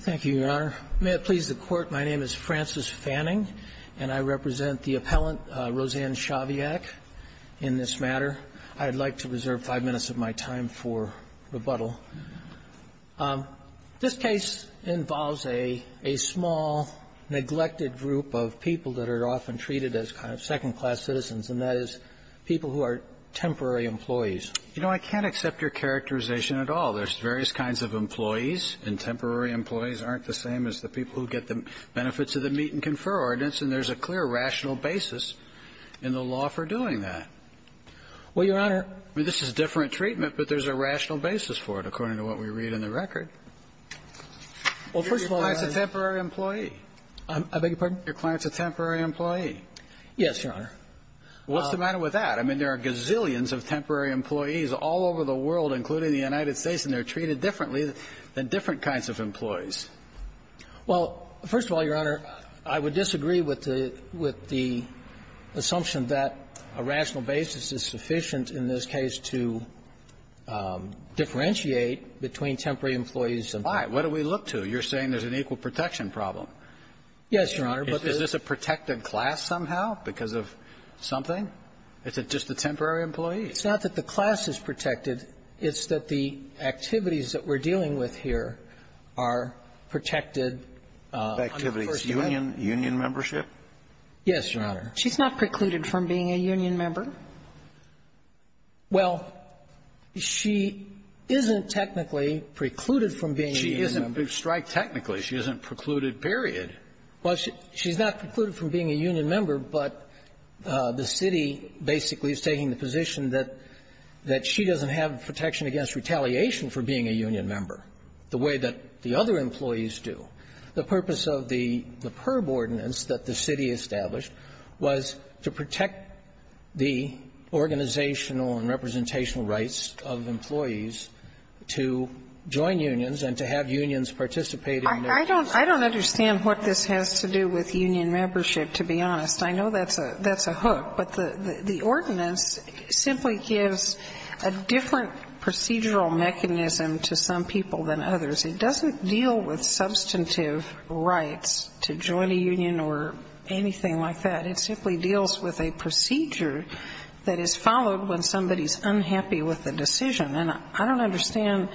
Thank you, Your Honor. May it please the Court, my name is Francis Fanning, and I represent the appellant, Roseanne Shaviak, in this matter. I'd like to reserve five minutes of my time for rebuttal. This case involves a small, neglected group of people that are often treated as kind of second-class citizens, and that is people who are temporary employees. You know, I can't accept your characterization at all. There's various kinds of employees, and temporary employees aren't the same as the people who get the benefits of the Meet and Confer Ordinance, and there's a clear rational basis in the law for doing that. Well, Your Honor This is different treatment, but there's a rational basis for it, according to what we read in the record. Well, first of all, Your client's a temporary employee. I beg your pardon? Your client's a temporary employee. Yes, Your Honor. What's the matter with that? I mean, there are gazillions of temporary employees all over the world, including the United States, and they're treated differently than different kinds of employees. Well, first of all, Your Honor, I would disagree with the assumption that a rational basis is sufficient in this case to differentiate between temporary employees and temporary employees. Why? What do we look to? You're saying there's an equal protection problem. Yes, Your Honor. Is this a protected class somehow because of something? Is it just the temporary employee? It's not that the class is protected. It's that the activities that we're dealing with here are protected under the First Amendment. Union membership? Yes, Your Honor. She's not precluded from being a union member? Well, she isn't technically precluded from being a union member. She isn't. We've striked technically. She isn't precluded, period. Well, she's not precluded from being a union member, but the city basically is taking the position that she doesn't have protection against retaliation for being a union member, the way that the other employees do. The purpose of the PERB ordinance that the city established was to protect the organizational and representational rights of employees to join unions and to have unions participate in their work. I don't understand what this has to do with union membership, to be honest. I know that's a hook, but the ordinance simply gives a different procedural mechanism to some people than others. It doesn't deal with substantive rights to join a union or anything like that. It simply deals with a procedure that is followed when somebody is unhappy with a decision. And I don't understand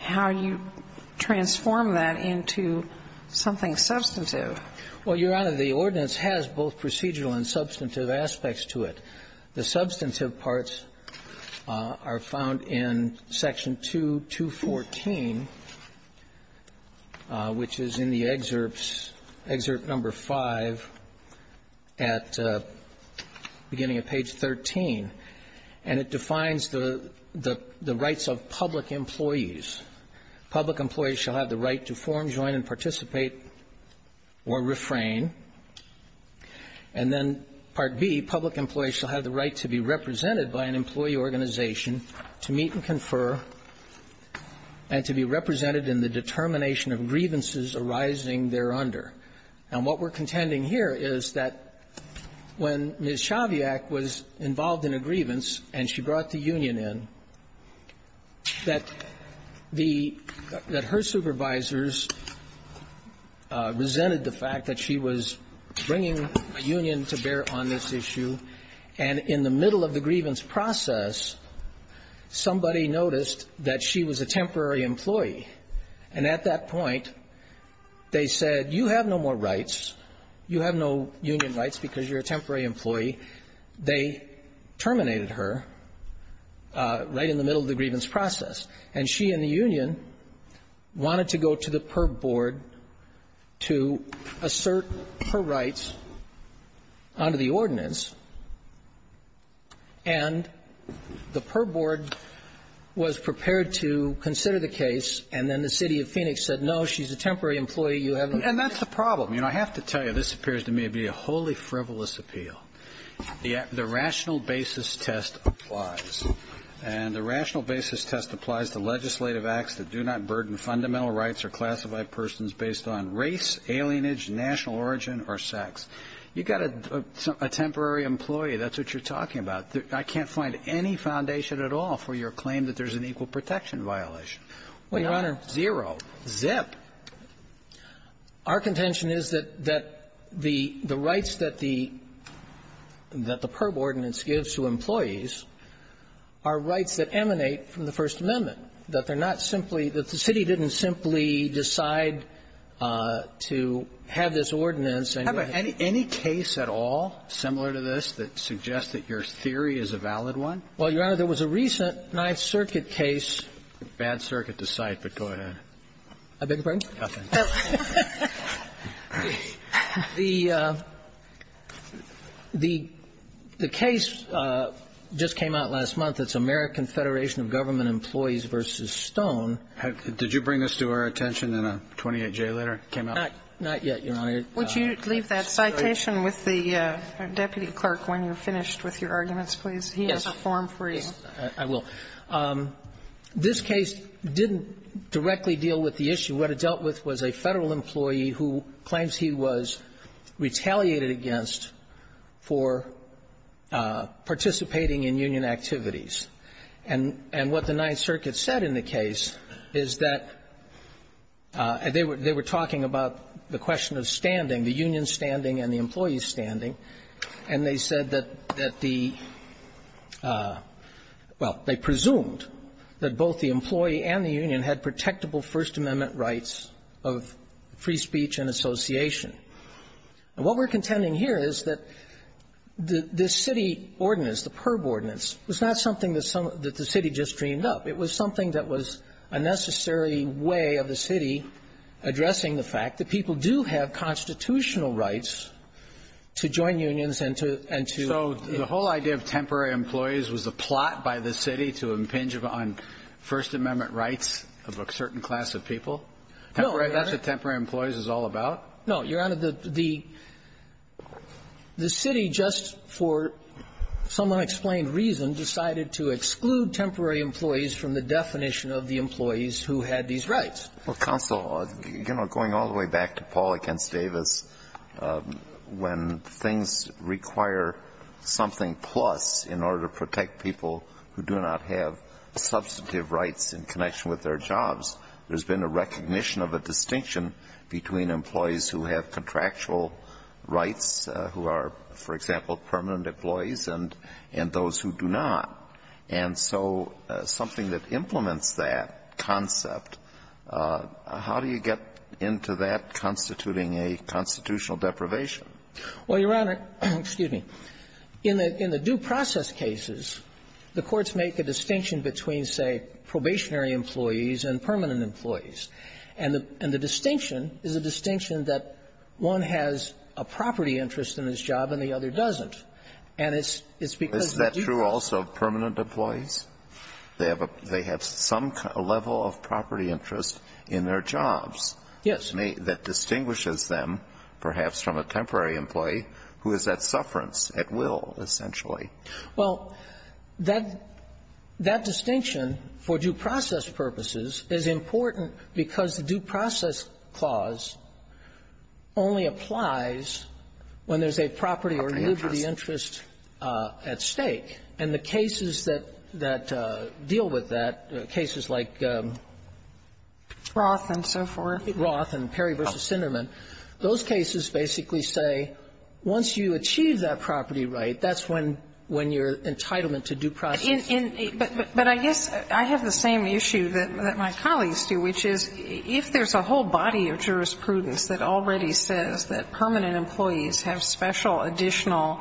how you transform that into something substantive. Well, Your Honor, the ordinance has both procedural and substantive aspects to it. The substantive parts are found in Section 2214, which is in the excerpts, Excerpt No. 5 at the beginning of page 13, and it defines the rights of public employees. Public employees shall have the right to form, join, and participate or refrain. And then Part B, public employees shall have the right to be represented by an employee organization, to meet and confer, and to be represented in the determination of grievances arising thereunder. And what we're contending here is that when Ms. Chaviak was involved in a grievance and she brought the union in, that the her supervisors resented the fact that she was bringing a union to bear on this issue, and in the middle of the grievance process, somebody noticed that she was a temporary employee. And at that point, they said, you have no more rights. You have no union rights because you're a temporary employee. They terminated her right in the middle of the grievance process. And she and the union wanted to go to the PERB board to assert her rights under the ordinance. And the PERB board was prepared to consider the case, and then the city of Phoenix said, no, she's a temporary employee. You have no ---- And that's the problem. You know, I have to tell you, this appears to me to be a wholly frivolous appeal. The rational basis test applies. And the rational basis test applies to legislative acts that do not burden fundamental rights or classified persons based on race, alienage, national origin, or sex. You've got a temporary employee. That's what you're talking about. I can't find any foundation at all for your claim that there's an equal protection violation. Well, Your Honor ---- Not zero. Zip. Our contention is that the rights that the PERB ordinance gives to employees are rights that emanate from the First Amendment, that they're not simply ---- that the city didn't simply decide to have this ordinance and ---- Do you have any case at all similar to this that suggests that your theory is a valid one? Well, Your Honor, there was a recent Ninth Circuit case ---- Bad circuit to cite, but go ahead. I beg your pardon? Nothing. The case just came out last month. It's American Federation of Government Employees v. Stone. Did you bring this to our attention in a 28-J letter that came out? Not yet, Your Honor. Would you leave that citation with the deputy clerk when you're finished with your arguments, please? He has a form for you. Yes, I will. This case didn't directly deal with the issue. What it dealt with was a Federal employee who claims he was retaliated against for participating in union activities. And what the Ninth Circuit said in the case is that they were talking about the question of standing, the union standing and the employee standing, and they said that the ---- Well, they presumed that both the employee and the union had protectable First Amendment rights of free speech and association. And what we're contending here is that the city ordinance, the perb ordinance, was not something that the city just dreamed up. It was something that was a necessary way of the city addressing the fact that people do have constitutional rights to join unions and to ---- So the whole idea of temporary employees was a plot by the city to impinge on First Amendment rights of a certain class of people? No, Your Honor. That's what temporary employees is all about? No, Your Honor. The city just for some unexplained reason decided to exclude temporary employees from the definition of the employees who had these rights. Well, counsel, you know, going all the way back to Paul against Davis, when things require something plus in order to protect people who do not have substantive rights in connection with their jobs, there's been a recognition of a distinction between employees who have contractual rights who are, for example, permanent employees and those who do not. And so something that implements that concept, how do you get into that constituting a constitutional deprivation? Well, Your Honor, excuse me. In the due process cases, the courts make a distinction between, say, probationary employees and permanent employees. And the distinction is a distinction that one has a property interest in his job and And it's because of the due process. Is it true also of permanent employees? They have some level of property interest in their jobs. Yes. That distinguishes them, perhaps, from a temporary employee who is at sufferance, at will, essentially. Well, that distinction for due process purposes is important because the due process clause only applies when there's a property or liberty interest at stake. And the cases that deal with that, cases like Roth and so forth, Roth and Perry v. Sinderman, those cases basically say once you achieve that property right, that's when your entitlement to due process is. But I guess I have the same issue that my colleagues do, which is if there's a whole body of jurisprudence that already says that permanent employees have special additional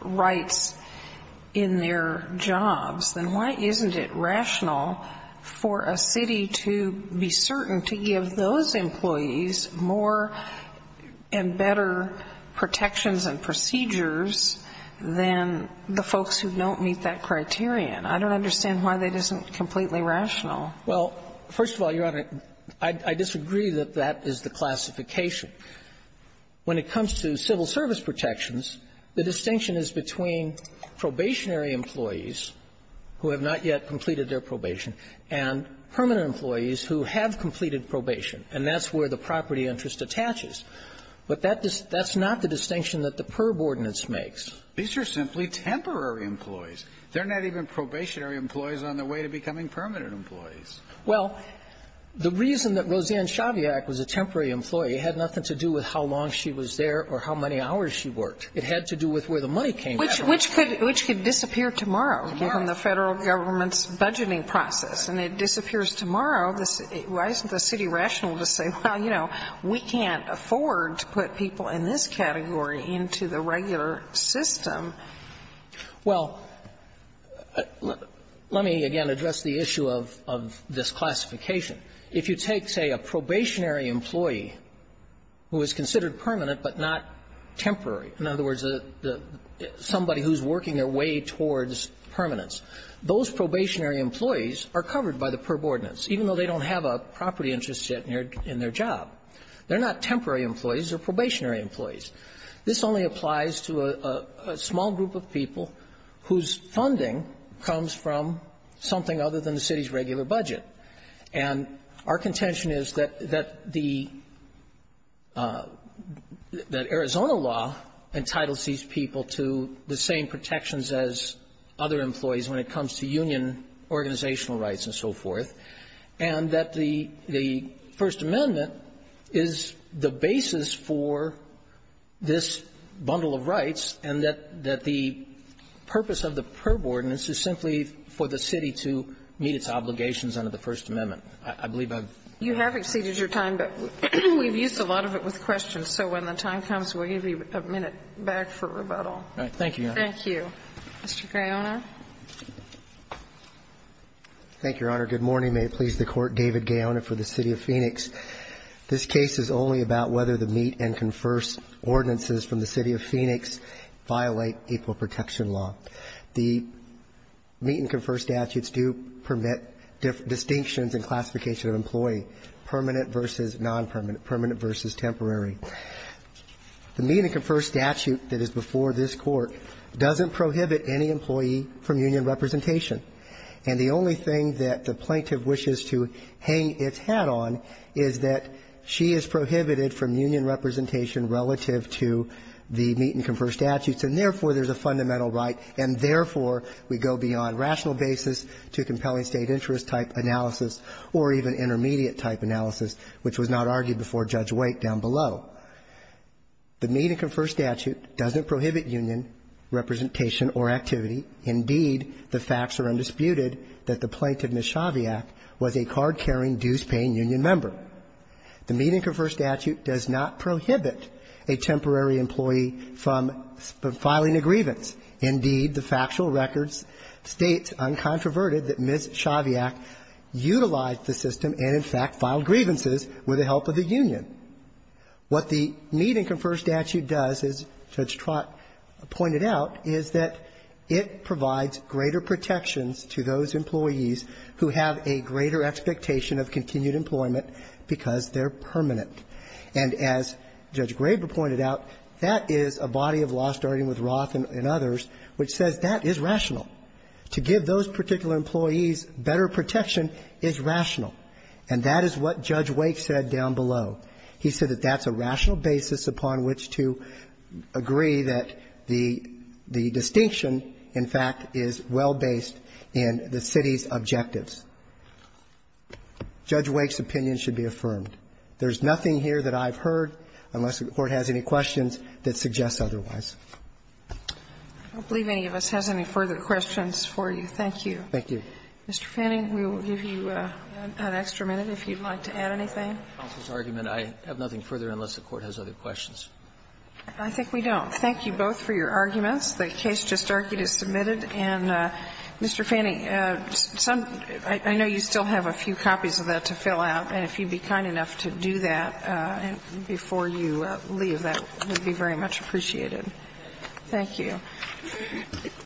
rights in their jobs, then why isn't it rational for a city to be certain to give those employees more and better protections and procedures than the folks who don't meet that criterion? I don't understand why that isn't completely rational. Well, first of all, Your Honor, I disagree that that is the classification. When it comes to civil service protections, the distinction is between probationary employees who have not yet completed their probation and permanent employees who have completed probation. And that's where the property interest attaches. But that's not the distinction that the PERB ordinance makes. These are simply temporary employees. They're not even probationary employees on their way to becoming permanent employees. Well, the reason that Roseanne Chaviak was a temporary employee had nothing to do with how long she was there or how many hours she worked. It had to do with where the money came from. Which could disappear tomorrow. Tomorrow. From the Federal government's budgeting process. And it disappears tomorrow. Why isn't the city rational to say, well, you know, we can't afford to put people in this category into the regular system? Well, let me, again, address the issue of this classification. If you take, say, a probationary employee who is considered permanent but not temporary, in other words, somebody who's working their way towards permanence, those probationary employees are covered by the PERB ordinance, even though they don't have a property interest yet in their job. They're not temporary employees. They're probationary employees. This only applies to a small group of people whose funding comes from something other than the city's regular budget. And our contention is that the – that Arizona law entitles these people to the same protections as other employees when it comes to union organizational rights and so forth, and that the First Amendment is the basis for this bundle of rights, and that the purpose of the PERB ordinance is simply for the city to meet its obligations under the First Amendment. I believe I've been clear on that. You have exceeded your time, but we've used a lot of it with questions, so when the time comes, we'll give you a minute back for rebuttal. All right. Thank you, Your Honor. Thank you. Mr. Crayonar. Thank you, Your Honor. Good morning. May it please the Court. David Gaona for the City of Phoenix. This case is only about whether the Meet and Confer ordinances from the City of Phoenix violate April Protection Law. The Meet and Confer statutes do permit distinctions and classification of employee, permanent versus non-permanent, permanent versus temporary. The Meet and Confer statute that is before this Court doesn't prohibit any employee from union representation. And the only thing that the plaintiff wishes to hang its hat on is that she is prohibited from union representation relative to the Meet and Confer statutes, and therefore, there's a fundamental right, and therefore, we go beyond rational basis to compelling State interest-type analysis or even intermediate-type analysis, which was not argued before Judge Wake down below. The Meet and Confer statute doesn't prohibit union representation or activity. Indeed, the facts are undisputed that the plaintiff, Ms. Chaviak, was a card-carrying, dues-paying union member. The Meet and Confer statute does not prohibit a temporary employee from filing a grievance. Indeed, the factual records state uncontroverted that Ms. Chaviak utilized the system and, in fact, filed grievances with the help of the union. What the Meet and Confer statute does, as Judge Trott pointed out, is that it provides greater protections to those employees who have a greater expectation of continued employment because they're permanent. And as Judge Graber pointed out, that is a body of law, starting with Roth and others, which says that is rational. To give those particular employees better protection is rational. And that is what Judge Wake said down below. He said that that's a rational basis upon which to agree that the distinction, in fact, is well based in the city's objectives. Judge Wake's opinion should be affirmed. There's nothing here that I've heard, unless the Court has any questions, that suggests otherwise. I don't believe any of us has any further questions for you. Thank you. Thank you. Mr. Fanning, we will give you an extra minute if you'd like to add anything. Counsel's argument, I have nothing further unless the Court has other questions. I think we don't. Thank you both for your arguments. The case just argued is submitted. And, Mr. Fanning, some of you, I know you still have a few copies of that to fill out. And if you'd be kind enough to do that before you leave, that would be very much appreciated. Thank you.